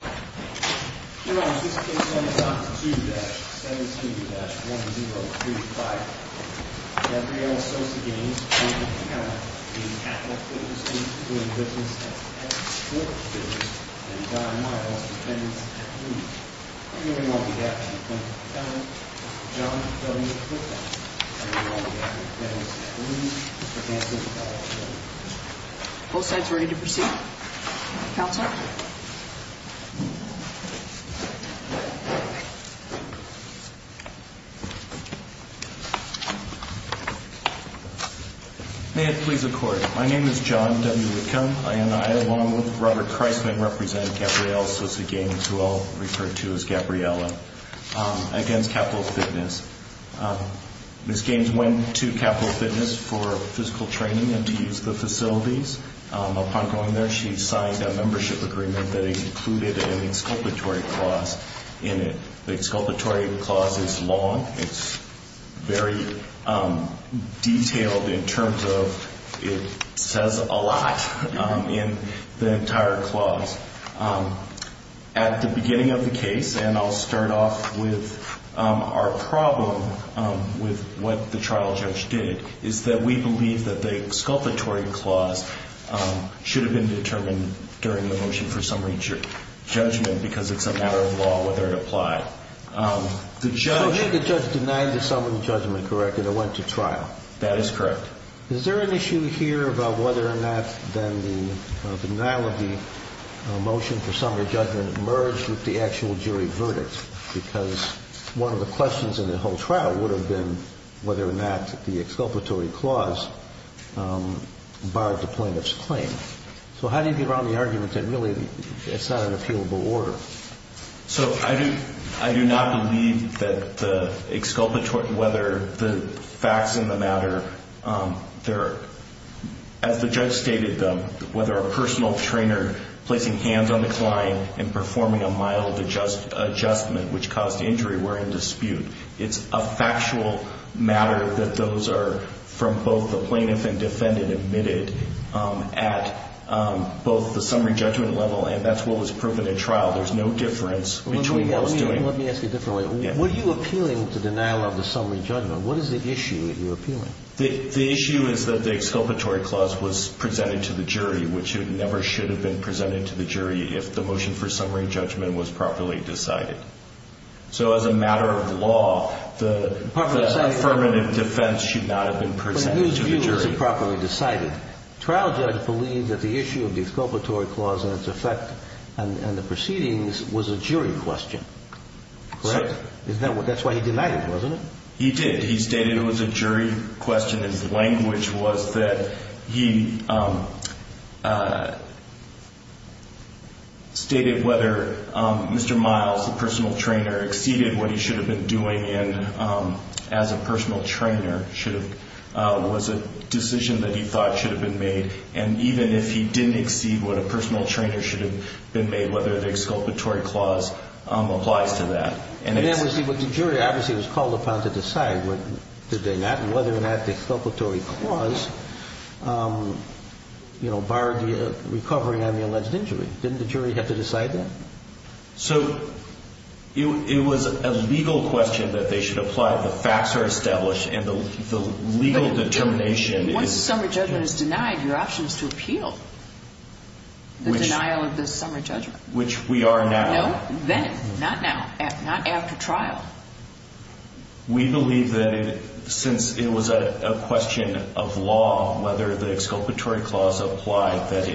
This case is on Doc 2-17-1035. Gabrielle Sosa-Gaines v. Capital Fitness, Inc., doing business at X Sport Fitness, and Don Miles, dependents at Blue. I'm hearing all the gaps in the plaintiff's defendant, Dr. John W. Clifford. I'm hearing all the gaps in the defendant's defendant, Mr. Nancy McCall. Both sides ready to proceed? Counsel? May it please the Court. My name is John W. Whitcomb, and I, along with Robert Christman, represent Gabrielle Sosa-Gaines, who I'll refer to as Gabriella, against Capital Fitness. Ms. Gaines went to Capital Fitness for physical training and to use the facilities. Upon going there, she signed a membership agreement that included an exculpatory clause in it. The exculpatory clause is long. It's very detailed in terms of it says a lot in the entire clause. At the beginning of the case, and I'll start off with our problem with what the trial judge did, is that we believe that the exculpatory clause should have been determined during the motion for summary judgment because it's a matter of law whether it applied. So then the judge denied the summary judgment, correct, and it went to trial? That is correct. Is there an issue here about whether or not then the denial of the motion for summary judgment merged with the actual jury verdict? Because one of the questions in the whole trial would have been whether or not the exculpatory clause barred the plaintiff's claim. So how do you get around the argument that really it's not an appealable order? So I do not believe that the exculpatory, whether the facts in the matter, as the judge stated them, whether a personal trainer placing hands on the client and performing a mild adjustment which caused injury were in dispute. It's a factual matter that those are, from both the plaintiff and defendant admitted at both the summary judgment level and that's what was proven in trial. There's no difference between what was doing. Let me ask it differently. Were you appealing to denial of the summary judgment? What is the issue that you're appealing? The issue is that the exculpatory clause was presented to the jury, which it never should have been presented to the jury if the motion for summary judgment was properly decided. So as a matter of law, the affirmative defense should not have been presented to the jury. But his view was improperly decided. Trial judge believed that the issue of the exculpatory clause and its effect and the proceedings was a jury question. Correct? That's why he denied it, wasn't it? He did. He stated it was a jury question. His language was that he stated whether Mr. Miles, the personal trainer, exceeded what he should have been doing and as a personal trainer was a decision that he thought should have been made. And even if he didn't exceed what a personal trainer should have been made, whether the exculpatory clause applies to that. The jury obviously was called upon to decide whether or not the exculpatory clause barred the recovery on the alleged injury. Didn't the jury have to decide that? So it was a legal question that they should apply. The facts are established and the legal determination is. Once summary judgment is denied, your option is to appeal the denial of the summary judgment. Which we are now. No, then, not now, not after trial. We believe that since it was a question of law, whether the exculpatory clause applied, that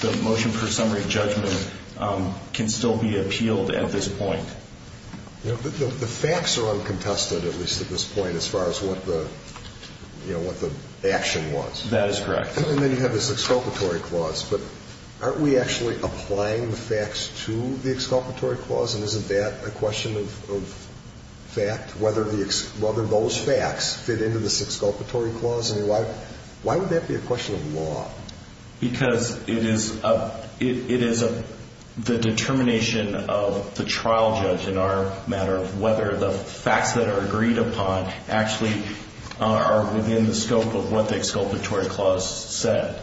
the motion for summary judgment can still be appealed at this point. The facts are uncontested, at least at this point, as far as what the action was. That is correct. And then you have this exculpatory clause. But aren't we actually applying the facts to the exculpatory clause? And isn't that a question of fact, whether those facts fit into this exculpatory clause? I mean, why would that be a question of law? Because it is the determination of the trial judge in our matter of whether the facts that are agreed upon actually are within the scope of what the exculpatory clause said.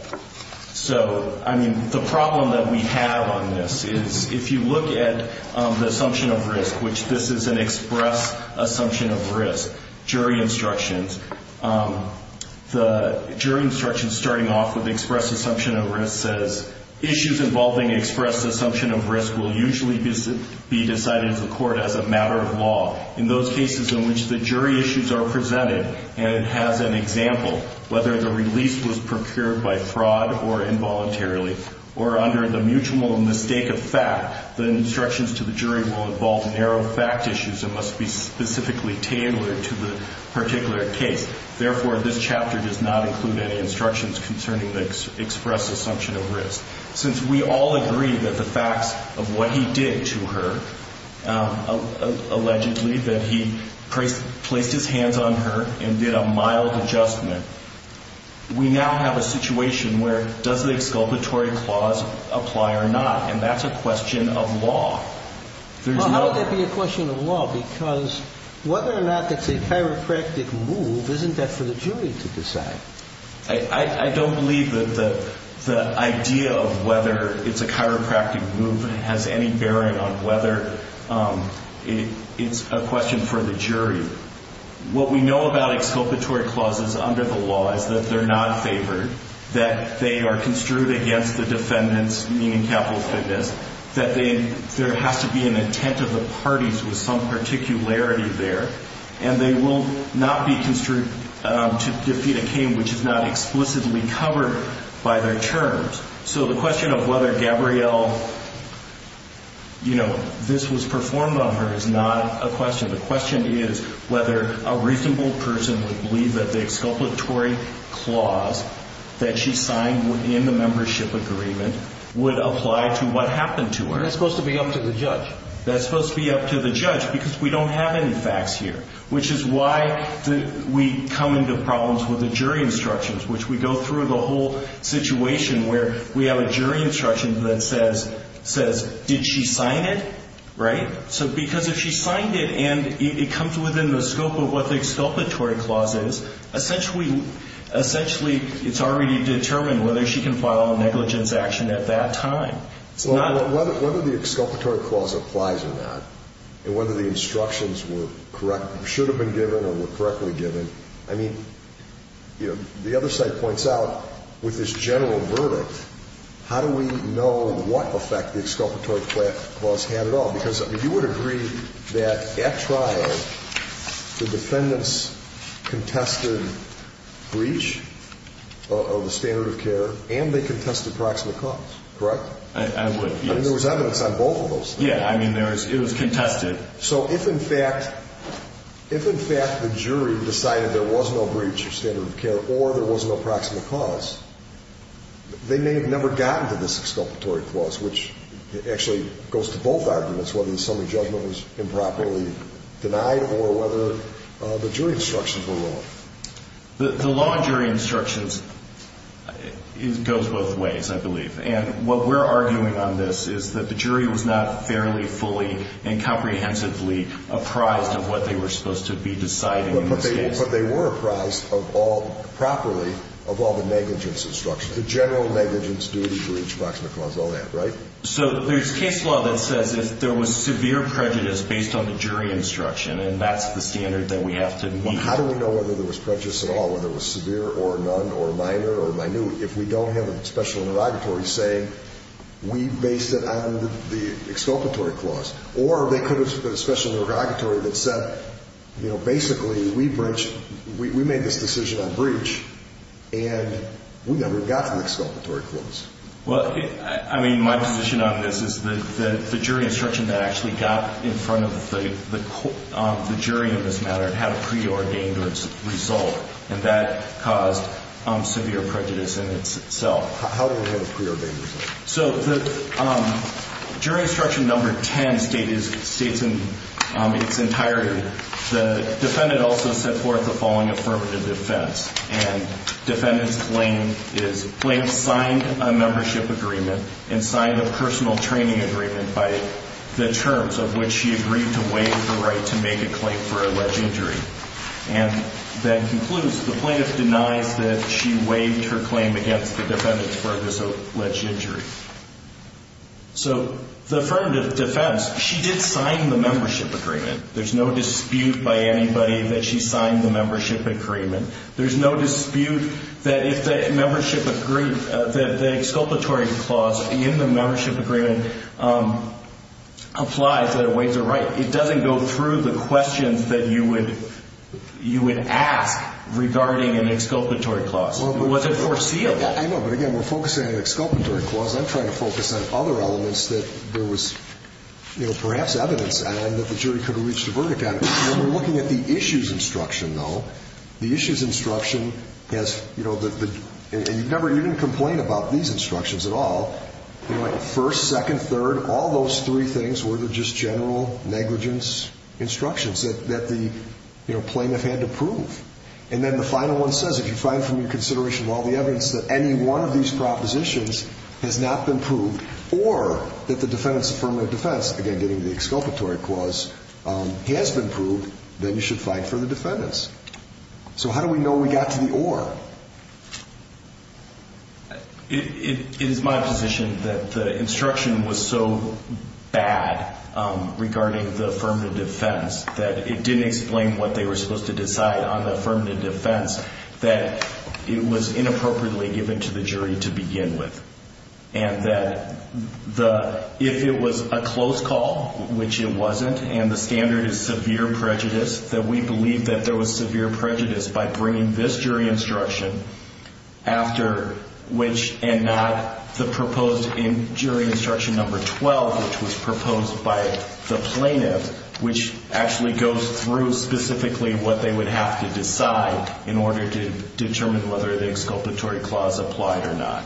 So, I mean, the problem that we have on this is if you look at the assumption of risk, which this is an express assumption of risk, jury instructions. The jury instructions starting off with express assumption of risk says, issues involving express assumption of risk will usually be decided in the court as a matter of law. In those cases in which the jury issues are presented and it has an example, whether the release was procured by fraud or involuntarily, or under the mutual mistake of fact, the instructions to the jury will involve narrow fact issues that must be specifically tailored to the particular case. Therefore, this chapter does not include any instructions concerning the express assumption of risk. Since we all agree that the facts of what he did to her, allegedly, that he placed his hands on her and did a mild adjustment, we now have a situation where does the exculpatory clause apply or not? And that's a question of law. Well, how would that be a question of law? Because whether or not that's a chiropractic move, isn't that for the jury to decide? I don't believe that the idea of whether it's a chiropractic move has any bearing on whether it's a question for the jury. What we know about exculpatory clauses under the law is that they're not favored, that they are construed against the defendants, meaning capital fitness, that there has to be an intent of the parties with some particularity there, and they will not be construed to defeat a claim which is not explicitly covered by their terms. So the question of whether Gabrielle, you know, this was performed on her is not a question. The question is whether a reasonable person would believe that the exculpatory clause that she signed in the membership agreement would apply to what happened to her. That's supposed to be up to the judge. That's supposed to be up to the judge because we don't have any facts here, which is why we come into problems with the jury instructions, which we go through the whole situation where we have a jury instruction that says, did she sign it, right? So because if she signed it and it comes within the scope of what the exculpatory clause is, essentially it's already determined whether she can file a negligence action at that time. So whether the exculpatory clause applies or not and whether the instructions were correct, should have been given or were correctly given, I mean, you know, the other side points out with this general verdict, how do we know what effect the exculpatory clause had at all? Because you would agree that at trial the defendants contested breach of the standard of care and they contested proximate cause, correct? I would, yes. I mean, there was evidence on both of those. Yeah, I mean, it was contested. So if in fact the jury decided there was no breach of standard of care or there was no proximate cause, they may have never gotten to this exculpatory clause, which actually goes to both arguments, whether the summary judgment was improperly denied or whether the jury instructions were wrong. The law and jury instructions goes both ways, I believe. And what we're arguing on this is that the jury was not fairly, fully, and comprehensively apprised of what they were supposed to be deciding in this case. But they were apprised of all properly of all the negligence instructions, the general negligence, duty, breach, proximate cause, all that, right? So there's case law that says if there was severe prejudice based on the jury instruction, and that's the standard that we have to meet. How do we know whether there was prejudice at all, whether it was severe or none or minor or minute? If we don't have a special interrogatory saying we based it on the exculpatory clause or they could have put a special interrogatory that said, you know, basically we made this decision on breach and we never got to the exculpatory clause. Well, I mean, my position on this is that the jury instruction that actually got in front of the jury in this matter had a preordained result, and that caused severe prejudice in itself. How do we have a preordained result? So the jury instruction number 10 states in its entirety, the defendant also set forth the following affirmative defense, and defendant's claim is plaintiff signed a membership agreement and signed a personal training agreement by the terms of which she agreed to waive the right to make a claim for alleged injury. And that concludes, the plaintiff denies that she waived her claim against the defendant for alleged injury. So the affirmative defense, she did sign the membership agreement. There's no dispute by anybody that she signed the membership agreement. There's no dispute that if the membership agree, that the exculpatory clause in the membership agreement applies, that it waives her right. But it doesn't go through the questions that you would ask regarding an exculpatory clause. It wasn't foreseeable. I know, but again, we're focusing on an exculpatory clause. I'm trying to focus on other elements that there was perhaps evidence on that the jury could have reached a verdict on. When we're looking at the issues instruction, though, the issues instruction has, you know, and you never even complain about these instructions at all. First, second, third, all those three things were just general negligence instructions that the plaintiff had to prove. And then the final one says if you find from your consideration of all the evidence that any one of these propositions has not been proved or that the defendant's affirmative defense, again, getting the exculpatory clause, has been proved, then you should fight for the defendants. So how do we know we got to the or? It is my position that the instruction was so bad regarding the affirmative defense that it didn't explain what they were supposed to decide on the affirmative defense that it was inappropriately given to the jury to begin with. And that if it was a close call, which it wasn't, and the standard is severe prejudice, that we believe that there was severe prejudice by bringing this jury instruction after which and not the proposed jury instruction number 12, which was proposed by the plaintiff, which actually goes through specifically what they would have to decide in order to determine whether the exculpatory clause applied or not.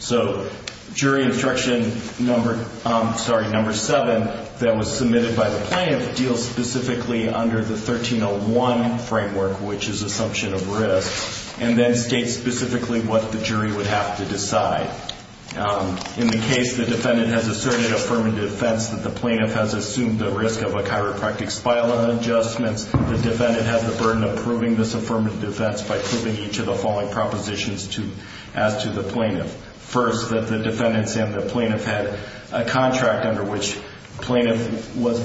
So jury instruction number 7, that was submitted by the plaintiff, deals specifically under the 1301 framework, which is assumption of risk, and then states specifically what the jury would have to decide. In the case the defendant has asserted affirmative defense that the plaintiff has assumed the risk of a chiropractic spinal adjustment, the defendant has the burden of proving this affirmative defense by proving each of the following propositions as to the plaintiff. First, that the defendants and the plaintiff had a contract under which the plaintiff was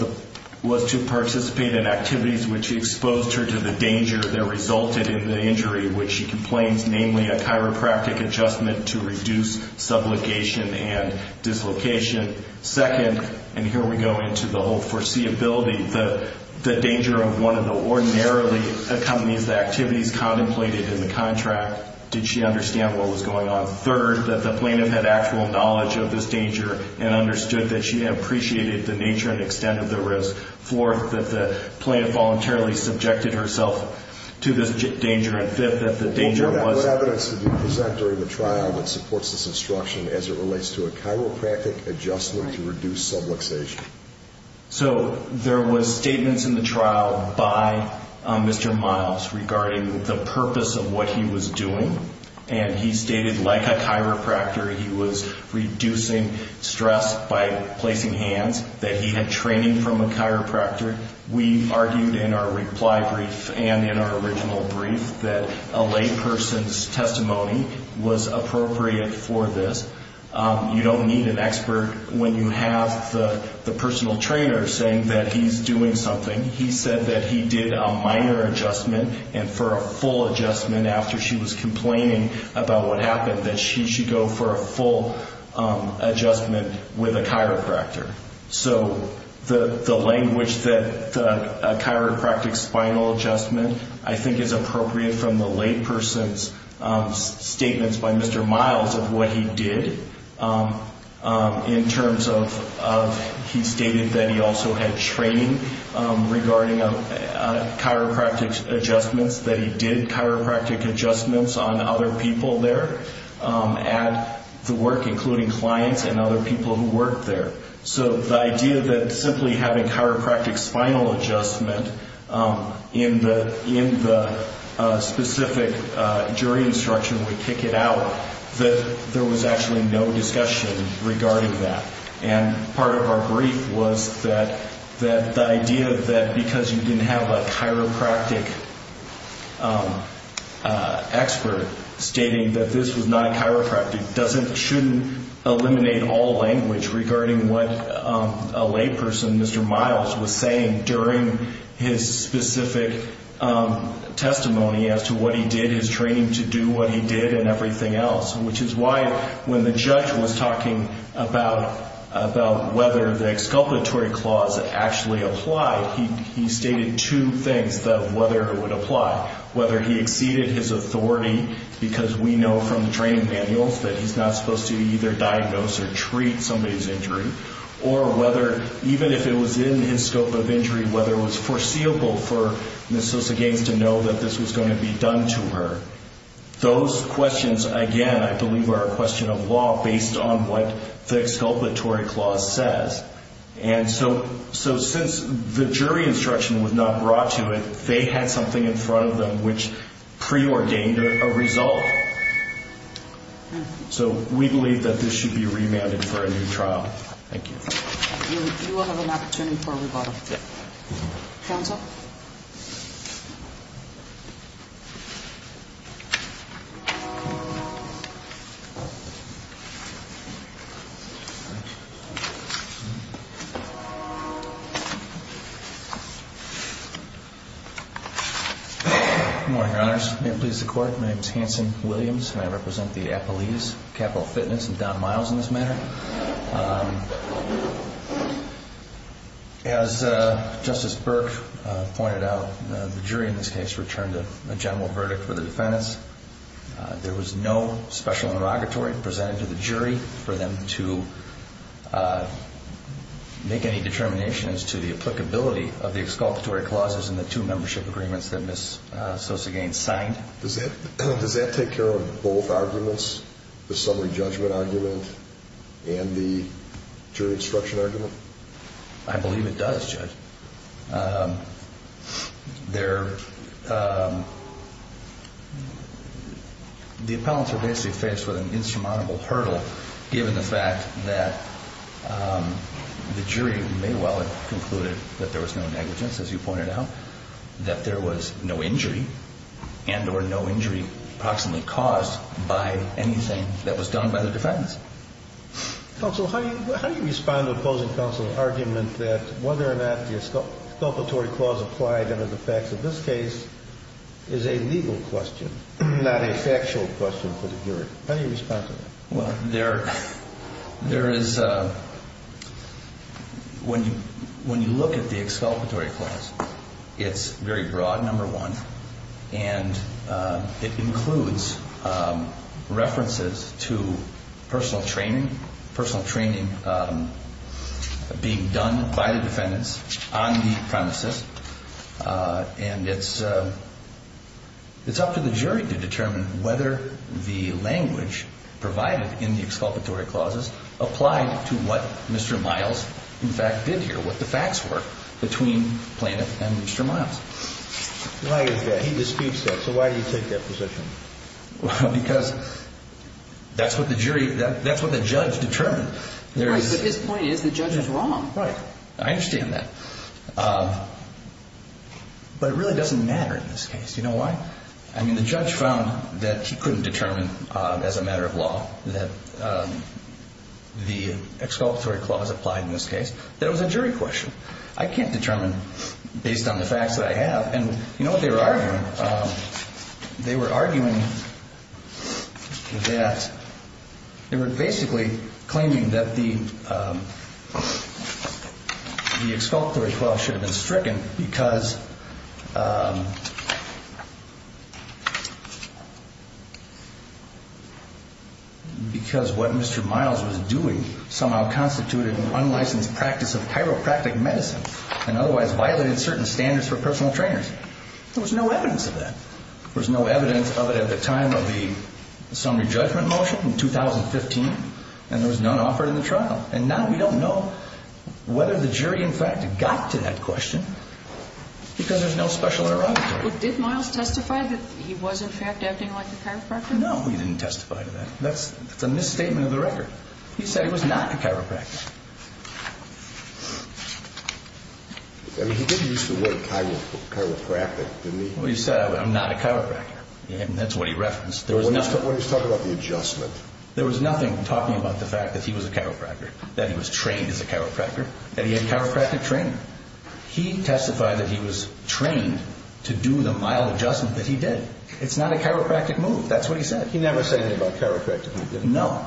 to participate in activities which exposed her to the danger that resulted in the injury, which she complains, namely a chiropractic adjustment to reduce sublocation and dislocation. Second, and here we go into the whole foreseeability, the danger of one of the ordinarily accompanies the activities contemplated in the contract. Did she understand what was going on? Third, that the plaintiff had actual knowledge of this danger and understood that she had appreciated the nature and extent of the risk. Fourth, that the plaintiff voluntarily subjected herself to this danger. And fifth, that the danger was... What evidence did you present during the trial that supports this instruction as it relates to a chiropractic adjustment to reduce sublocation? So there was statements in the trial by Mr. Miles regarding the purpose of what he was doing, and he stated like a chiropractor he was reducing stress by placing hands, that he had training from a chiropractor. We argued in our reply brief and in our original brief that a layperson's testimony was appropriate for this. You don't need an expert when you have the personal trainer saying that he's doing something. He said that he did a minor adjustment, and for a full adjustment after she was complaining about what happened, that she should go for a full adjustment with a chiropractor. So the language that a chiropractic spinal adjustment, I think, is appropriate from the layperson's statements by Mr. Miles of what he did in terms of... He stated that he also had training regarding chiropractic adjustments, that he did chiropractic adjustments on other people there at the work, including clients and other people who worked there. So the idea that simply having chiropractic spinal adjustment in the specific jury instruction would kick it out, that there was actually no discussion regarding that. And part of our brief was that the idea that because you didn't have a chiropractic expert stating that this was not chiropractic shouldn't eliminate all language regarding what a layperson, Mr. Miles, was saying during his specific testimony as to what he did, his training to do what he did, and everything else. Which is why when the judge was talking about whether the exculpatory clause actually applied, he stated two things that whether it would apply. Whether he exceeded his authority, because we know from the training manuals that he's not supposed to either diagnose or treat somebody's injury, or whether even if it was in his scope of injury, whether it was foreseeable for Ms. Sosa-Gaines to know that this was going to be done to her. Those questions, again, I believe are a question of law based on what the exculpatory clause says. And so since the jury instruction was not brought to it, they had something in front of them which preordained a result. So we believe that this should be remanded for a new trial. Thank you. You will have an opportunity for rebuttal. Counsel? Good morning, Your Honors. May it please the Court. My name is Hanson Williams, and I represent the Appalese Capital Fitness, and Don Miles in this matter. As Justice Burke pointed out, the jury in this case returned a general verdict for the defendants. There was no special inauguratory presented to the jury for them to make any determinations to the applicability of the exculpatory clauses in the two membership agreements that Ms. Sosa-Gaines signed. Does that take care of both arguments, the summary judgment argument and the jury instruction argument? I believe it does, Judge. The appellants are basically faced with an insurmountable hurdle, given the fact that the jury may well have concluded that there was no negligence, as you pointed out, that there was no injury and or no injury approximately caused by anything that was done by the defendants. Counsel, how do you respond to opposing counsel's argument that whether or not the exculpatory clause applied under the facts of this case is a legal question, not a factual question for the jury? How do you respond to that? Well, there is, when you look at the exculpatory clause, it's very broad, number one, and it includes references to personal training being done by the defendants on the premises, and it's up to the jury to determine whether the language provided in the exculpatory clauses applied to what Mr. Miles, in fact, did here, what the facts were between Planoff and Mr. Miles. Why is that? He disputes that. So why do you take that position? Well, because that's what the jury, that's what the judge determined. Right, but his point is the judge is wrong. Right. I understand that. But it really doesn't matter in this case. Do you know why? I mean, the judge found that he couldn't determine as a matter of law that the exculpatory clause applied in this case, that it was a jury question. I can't determine based on the facts that I have. And you know what they were arguing? They were arguing that they were basically claiming that the exculpatory clause should have been stricken because what Mr. Miles was doing somehow constituted an unlicensed practice of chiropractic medicine and otherwise violated certain standards for personal trainers. There was no evidence of that. There was no evidence of it at the time of the summary judgment motion in 2015, and there was none offered in the trial. And now we don't know whether the jury, in fact, got to that question because there's no special error out there. Did Miles testify that he was, in fact, acting like a chiropractor? No, he didn't testify to that. That's a misstatement of the record. He said he was not a chiropractor. I mean, he did use the word chiropractic, didn't he? Well, he said, I'm not a chiropractor, and that's what he referenced. What he's talking about is the adjustment. There was nothing talking about the fact that he was a chiropractor, that he was trained as a chiropractor, that he had chiropractic training. He testified that he was trained to do the mild adjustment that he did. It's not a chiropractic move. That's what he said. He never said anything about chiropractic. He didn't know.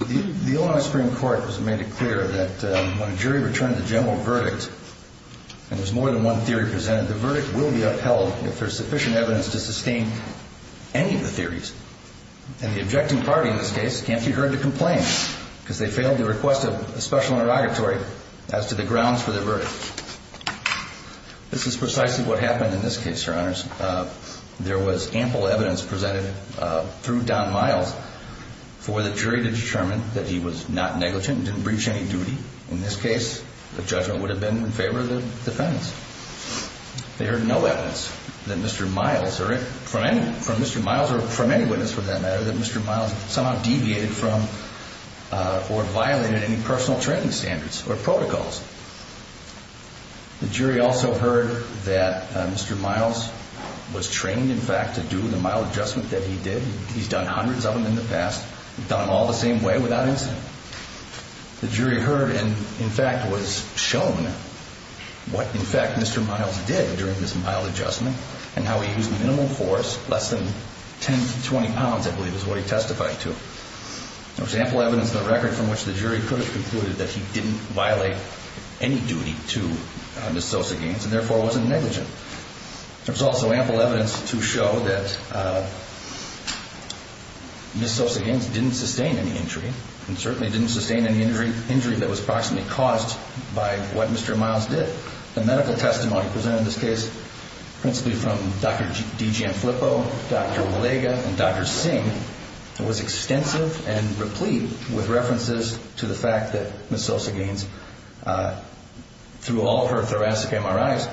The Illinois Supreme Court has made it clear that when a jury returns a general verdict and there's more than one theory presented, the verdict will be upheld if there's sufficient evidence to sustain any of the theories. And the objecting party in this case can't be heard to complain because they failed to request a special interrogatory as to the grounds for their verdict. This is precisely what happened in this case, Your Honors. There was ample evidence presented through Don Miles for the jury to determine that he was not negligent, didn't breach any duty. In this case, the judgment would have been in favor of the defendants. They heard no evidence that Mr. Miles, or from any witness for that matter, that Mr. Miles somehow deviated from or violated any personal training standards or protocols. The jury also heard that Mr. Miles was trained, in fact, to do the mild adjustment that he did. He's done hundreds of them in the past. He's done them all the same way without incident. The jury heard and, in fact, was shown what, in fact, Mr. Miles did during this mild adjustment and how he used minimal force, less than 10 to 20 pounds, I believe is what he testified to. There was ample evidence in the record from which the jury could have concluded that he didn't violate any duty to Ms. Sosa-Gaines and, therefore, wasn't negligent. There was also ample evidence to show that Ms. Sosa-Gaines didn't sustain any injury and certainly didn't sustain any injury that was approximately caused by what Mr. Miles did. The medical testimony presented in this case, principally from Dr. D. Jan Flippo, Dr. Valega, and Dr. Singh, was extensive and replete with references to the fact that Ms. Sosa-Gaines, through all of her thoracic MRIs,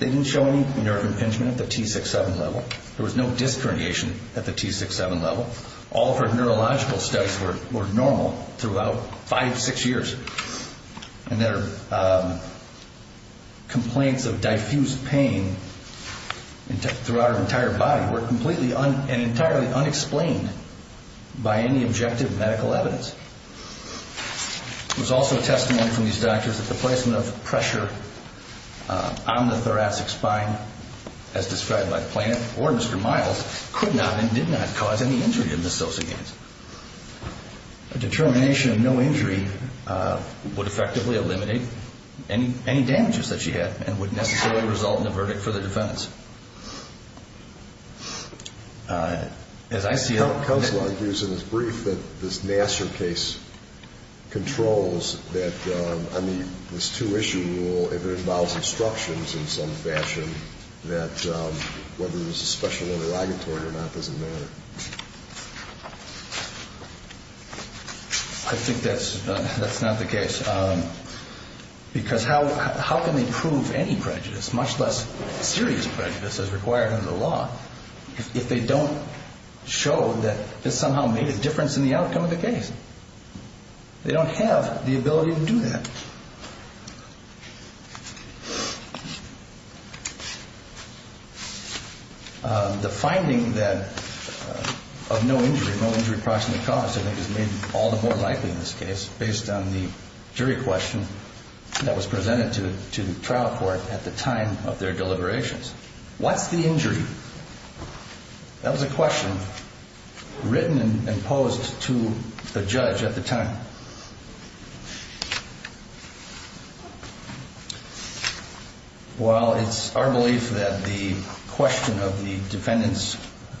they didn't show any nerve impingement at the T6-7 level. There was no disc herniation at the T6-7 level. All of her neurological studies were normal throughout five, six years. And their complaints of diffused pain throughout her entire body were completely and entirely unexplained by any objective medical evidence. There was also testimony from these doctors that the placement of pressure on the thoracic spine, as described by Planoff or Mr. Miles, could not and did not cause any injury in Ms. Sosa-Gaines. A determination of no injury would effectively eliminate any damages that she had and would necessarily result in a verdict for the defendants. As I see it... Counsel argues in his brief that this Nassar case controls that, on this two-issue rule, if it involves instructions in some fashion, that whether there's a special interrogatory or not doesn't matter. I think that's not the case, because how can they prove any prejudice, much less serious prejudice as required under the law, if they don't show that this somehow made a difference in the outcome of the case? They don't have the ability to do that. The finding of no injury, no injury approximately caused, I think is maybe all the more likely in this case, based on the jury question that was presented to the trial court at the time of their deliberations. What's the injury? That was a question written and posed to the judge at the time. While it's our belief that the question of the defendant's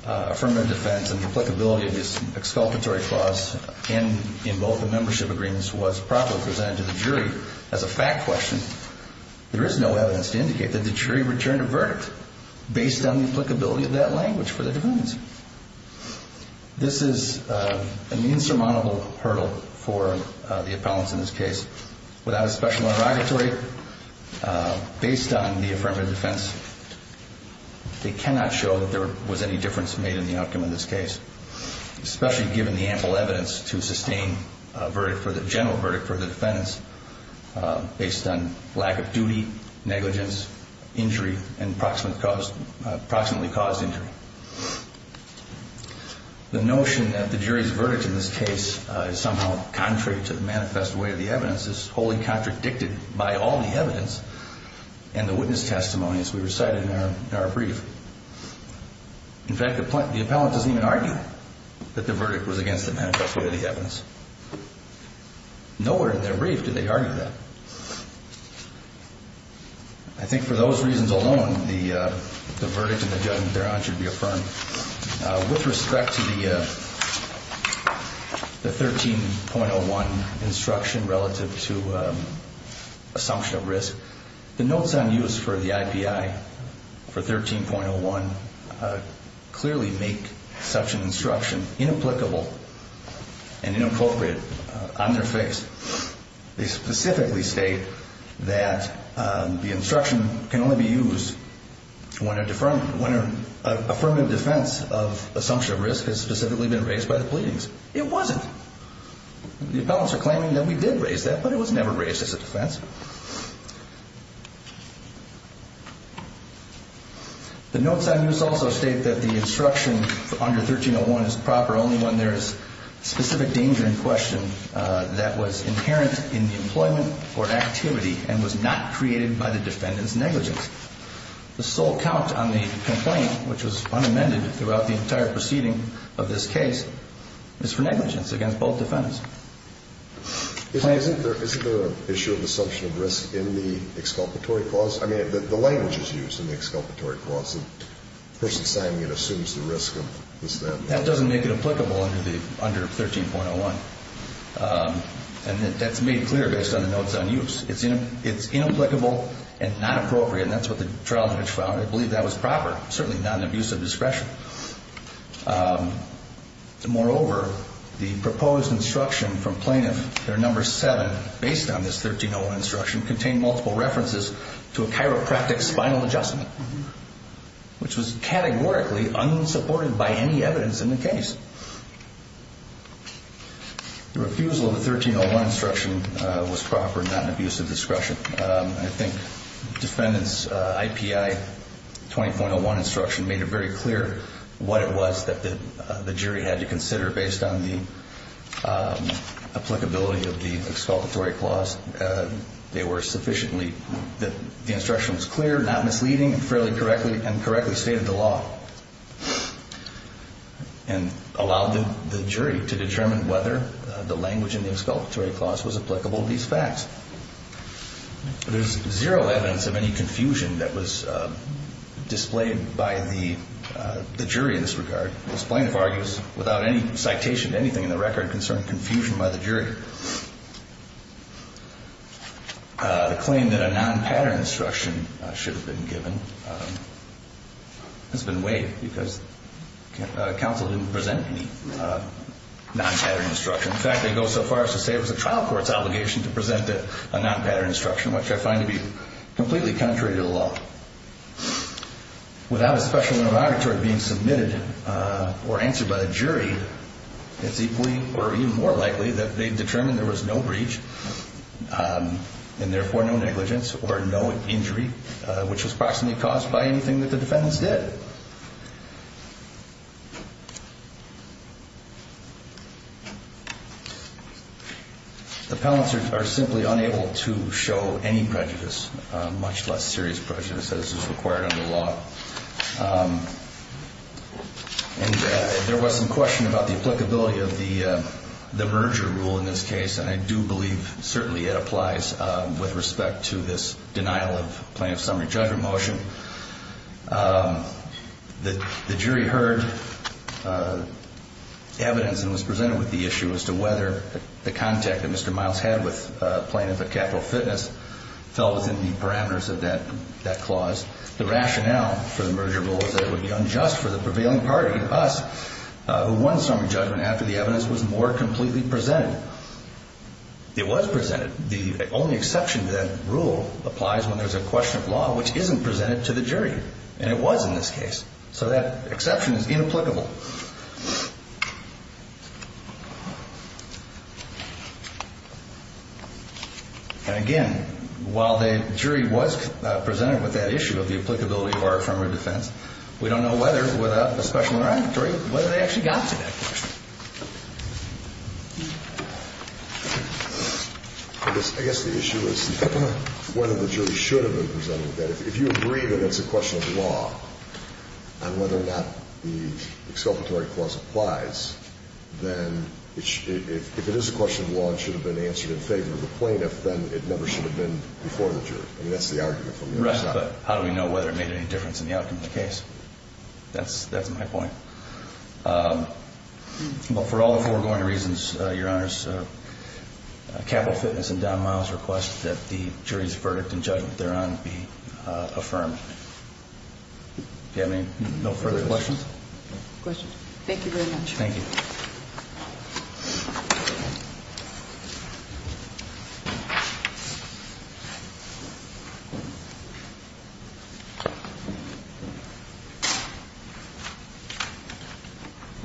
affirmative defense and the applicability of this exculpatory clause in both the membership agreements was properly presented to the jury as a fact question, there is no evidence to indicate that the jury returned a verdict based on the applicability of that language for the defendants. This is an insurmountable hurdle for the appellants in this case. Without a special interrogatory, based on the affirmative defense, they cannot show that there was any difference made in the outcome of this case, especially given the ample evidence to sustain a general verdict for the defendants based on lack of duty, negligence, injury, and approximately caused injury. The notion that the jury's verdict in this case is somehow contrary to the manifest way of the evidence is wholly contradicted by all the evidence and the witness testimony as we recited in our brief. In fact, the appellant doesn't even argue that the verdict was against the manifest way of the evidence. Nowhere in their brief do they argue that. I think for those reasons alone, the verdict in the judgment thereon should be affirmed. With respect to the 13.01 instruction relative to assumption of risk, the notes on use for the IPI for 13.01 clearly make such an instruction inapplicable and inappropriate on their face. They specifically state that the instruction can only be used when an affirmative defense of assumption of risk has specifically been raised by the pleadings. It wasn't. The appellants are claiming that we did raise that, but it was never raised as a defense. The notes on use also state that the instruction for under 13.01 is proper only when there is specific danger in question that was inherent in the employment or activity and was not created by the defendant's negligence. The sole count on the complaint, which was unamended throughout the entire proceeding of this case, is for negligence against both defendants. Isn't there an issue of assumption of risk in the exculpatory clause? I mean, the language is used in the exculpatory clause. The person signing it assumes the risk of this then. That doesn't make it applicable under 13.01, and that's made clear based on the notes on use. It's inapplicable and not appropriate, and that's what the trial judge found. I believe that was proper, certainly not an abuse of discretion. Moreover, the proposed instruction from plaintiff, their number seven, based on this 13.01 instruction contained multiple references to a chiropractic spinal adjustment, which was categorically unsupported by any evidence in the case. The refusal of the 13.01 instruction was proper, not an abuse of discretion. I think defendant's IPI 20.01 instruction made it very clear what it was that the jury had to consider based on the applicability of the exculpatory clause. They were sufficiently that the instruction was clear, not misleading, fairly correctly and correctly stated the law and allowed the jury to determine whether the language in the exculpatory clause was applicable to these facts. There's zero evidence of any confusion that was displayed by the jury in this regard. The plaintiff argues without any citation to anything in the record concerning confusion by the jury. The claim that a non-pattern instruction should have been given has been waived because counsel didn't present any non-pattern instruction. In fact, they go so far as to say it was a trial court's obligation to present a non-pattern instruction, which I find to be completely contrary to the law. Without a special auditory being submitted or answered by the jury, it's equally or even more likely that they determined there was no breach and therefore no negligence or no injury, which was approximately caused by anything that the defendants did. The palancers are simply unable to show any prejudice, much less serious prejudice as is required under law. And there was some question about the applicability of the merger rule in this case, and I do believe certainly it applies with respect to this denial of plaintiff's summary judgment motion. The jury heard evidence and was presented with the issue as to whether the contact that Mr. Miles had with a plaintiff at Capital Fitness fell within the parameters of that clause. The rationale for the merger rule was that it would be unjust for the prevailing party, us, who won summary judgment after the evidence was more completely presented. It was presented. The only exception to that rule applies when there's a question of law which isn't presented to the jury, and it was in this case. So that exception is inapplicable. And again, while the jury was presented with that issue of the applicability of our affirmative defense, we don't know whether, without a special auditory, whether they actually got to that question. I guess the issue is whether the jury should have been presented with that. If you agree that that's a question of law, and whether or not the exculpatory clause applies, then if it is a question of law and should have been answered in favor of the plaintiff, then it never should have been before the jury. I mean, that's the argument from the other side. Right, but how do we know whether it made any difference in the outcome of the case? That's my point. Well, for all the foregoing reasons, Your Honors, Capital Fitness and Don Miles request that the jury's verdict and judgment thereon be affirmed. Do you have any further questions? Questions. Thank you very much. Thank you.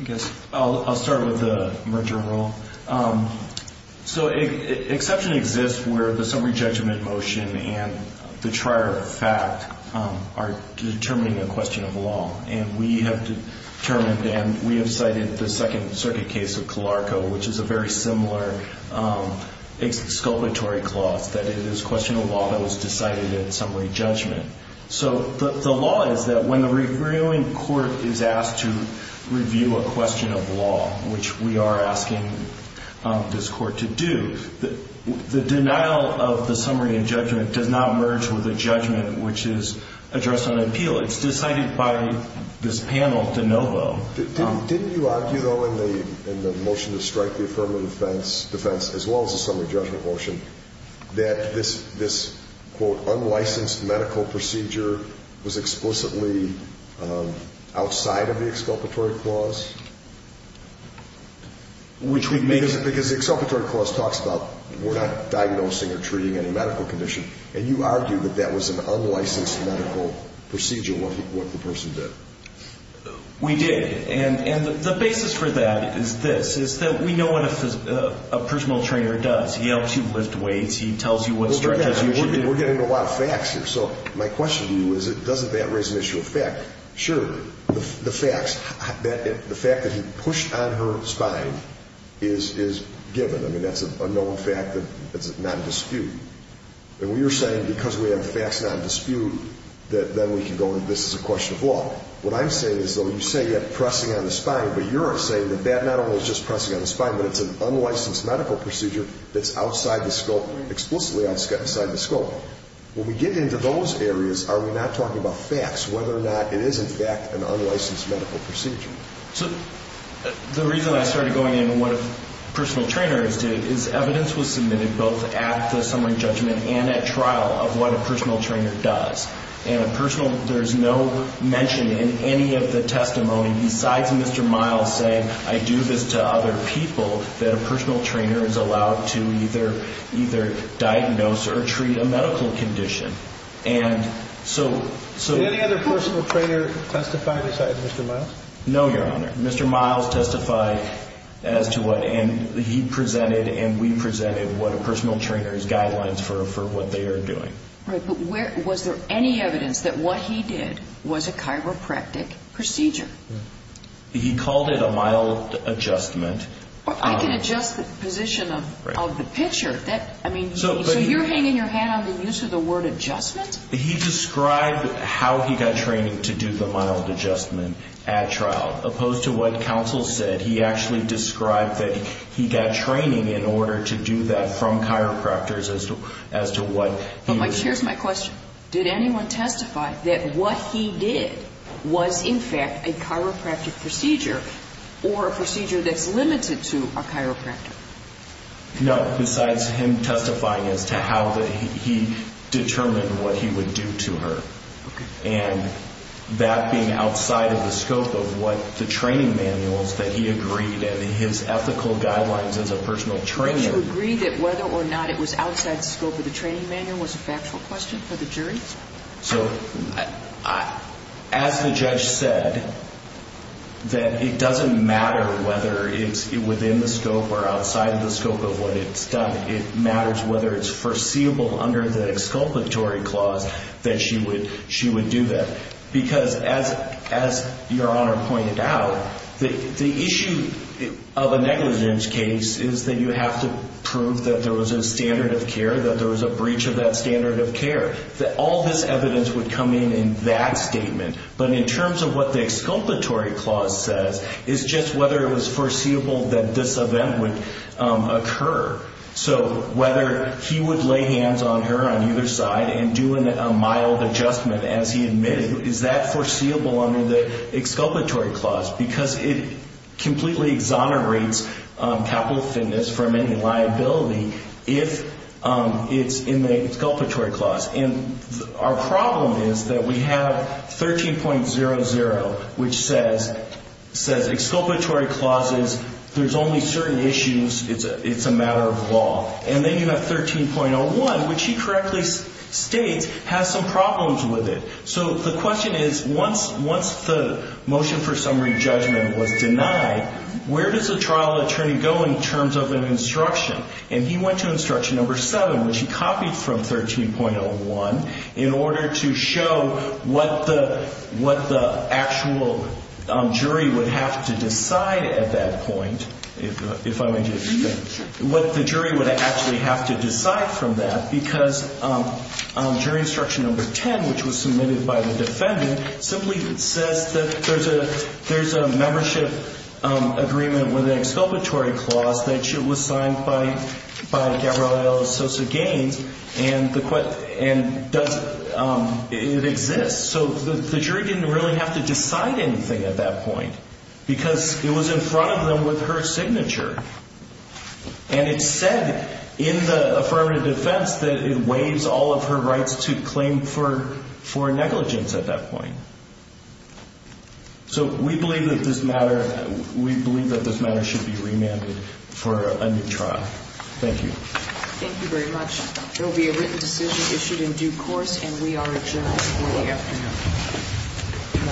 I guess I'll start with the merger rule. So exception exists where the summary judgment motion and the trier of fact are determining a question of law. And we have determined, and we have cited the Second Circuit case of Calarco, which is a very similar exculpatory clause, that it is a question of law that was decided at summary judgment. So the law is that when the reviewing court is asked to review a question of law, which we are asking this court to do, the denial of the summary and judgment does not merge with a judgment which is addressed on appeal. It's decided by this panel de novo. Didn't you argue, though, in the motion to strike the affirmative defense, as well as the summary judgment motion, that this, quote, unlicensed medical procedure was explicitly outside of the exculpatory clause? Because the exculpatory clause talks about we're not diagnosing or treating any medical condition, and you argue that that was an unlicensed medical procedure, what the person did. We did. And the basis for that is this, is that we know what a personal trainer does. He helps you lift weights. He tells you what strategies you should do. We're getting into a lot of facts here. So my question to you is, doesn't that raise an issue of fact? Sure. The facts, the fact that he pushed on her spine is given. I mean, that's an unknown fact that's not in dispute. And we are saying because we have facts not in dispute that then we can go, this is a question of law. What I'm saying is, though, you say you have pressing on the spine, but you're saying that that not only is just pressing on the spine, but it's an unlicensed medical procedure that's outside the scope, explicitly outside the scope. When we get into those areas, are we not talking about facts, whether or not it is, in fact, an unlicensed medical procedure? So the reason I started going into what a personal trainer did is evidence was submitted both at the summary judgment and at trial of what a personal trainer does. And a personal, there's no mention in any of the testimony besides Mr. Miles saying, I do this to other people, that a personal trainer is allowed to either diagnose or treat a medical condition. And so – Did any other personal trainer testify besides Mr. Miles? No, Your Honor. Mr. Miles testified as to what, and he presented and we presented what a personal trainer's guidelines for what they are doing. Right, but was there any evidence that what he did was a chiropractic procedure? He called it a mild adjustment. I can adjust the position of the picture. I mean, so you're hanging your hand on the use of the word adjustment? He described how he got training to do the mild adjustment at trial, opposed to what counsel said. He actually described that he got training in order to do that from chiropractors as to what he was doing. Here's my question. Did anyone testify that what he did was, in fact, a chiropractic procedure or a procedure that's limited to a chiropractor? No, besides him testifying as to how that he determined what he would do to her. Okay. And that being outside of the scope of what the training manuals that he agreed and his ethical guidelines as a personal trainer. Did you agree that whether or not it was outside the scope of the training manual was a factual question for the jury? So, as the judge said, that it doesn't matter whether it's within the scope or outside of the scope of what it's done. It matters whether it's foreseeable under the exculpatory clause that she would do that. Because, as Your Honor pointed out, the issue of a negligence case is that you have to prove that there was a standard of care, that there was a breach of that standard of care, that all this evidence would come in in that statement. But in terms of what the exculpatory clause says is just whether it was foreseeable that this event would occur. So whether he would lay hands on her on either side and do a mild adjustment as he admitted, is that foreseeable under the exculpatory clause? Because it completely exonerates capital offenders from any liability if it's in the exculpatory clause. And our problem is that we have 13.00, which says, exculpatory clauses, there's only certain issues, it's a matter of law. And then you have 13.01, which he correctly states has some problems with it. So the question is, once the motion for summary judgment was denied, where does the trial attorney go in terms of an instruction? And he went to instruction number 7, which he copied from 13.01, in order to show what the actual jury would have to decide at that point, if I may just finish, what the jury would actually have to decide from that. Because jury instruction number 10, which was submitted by the defendant, simply says that there's a membership agreement with an exculpatory clause that was signed by Gabrielle Sosa Gaines, and it exists. So the jury didn't really have to decide anything at that point, because it was in front of them with her signature. And it said in the affirmative defense that it waives all of her rights to claim for negligence at that point. So we believe that this matter should be remanded for a new trial. Thank you. Thank you very much. There will be a written decision issued in due course, and we are adjourned for the afternoon.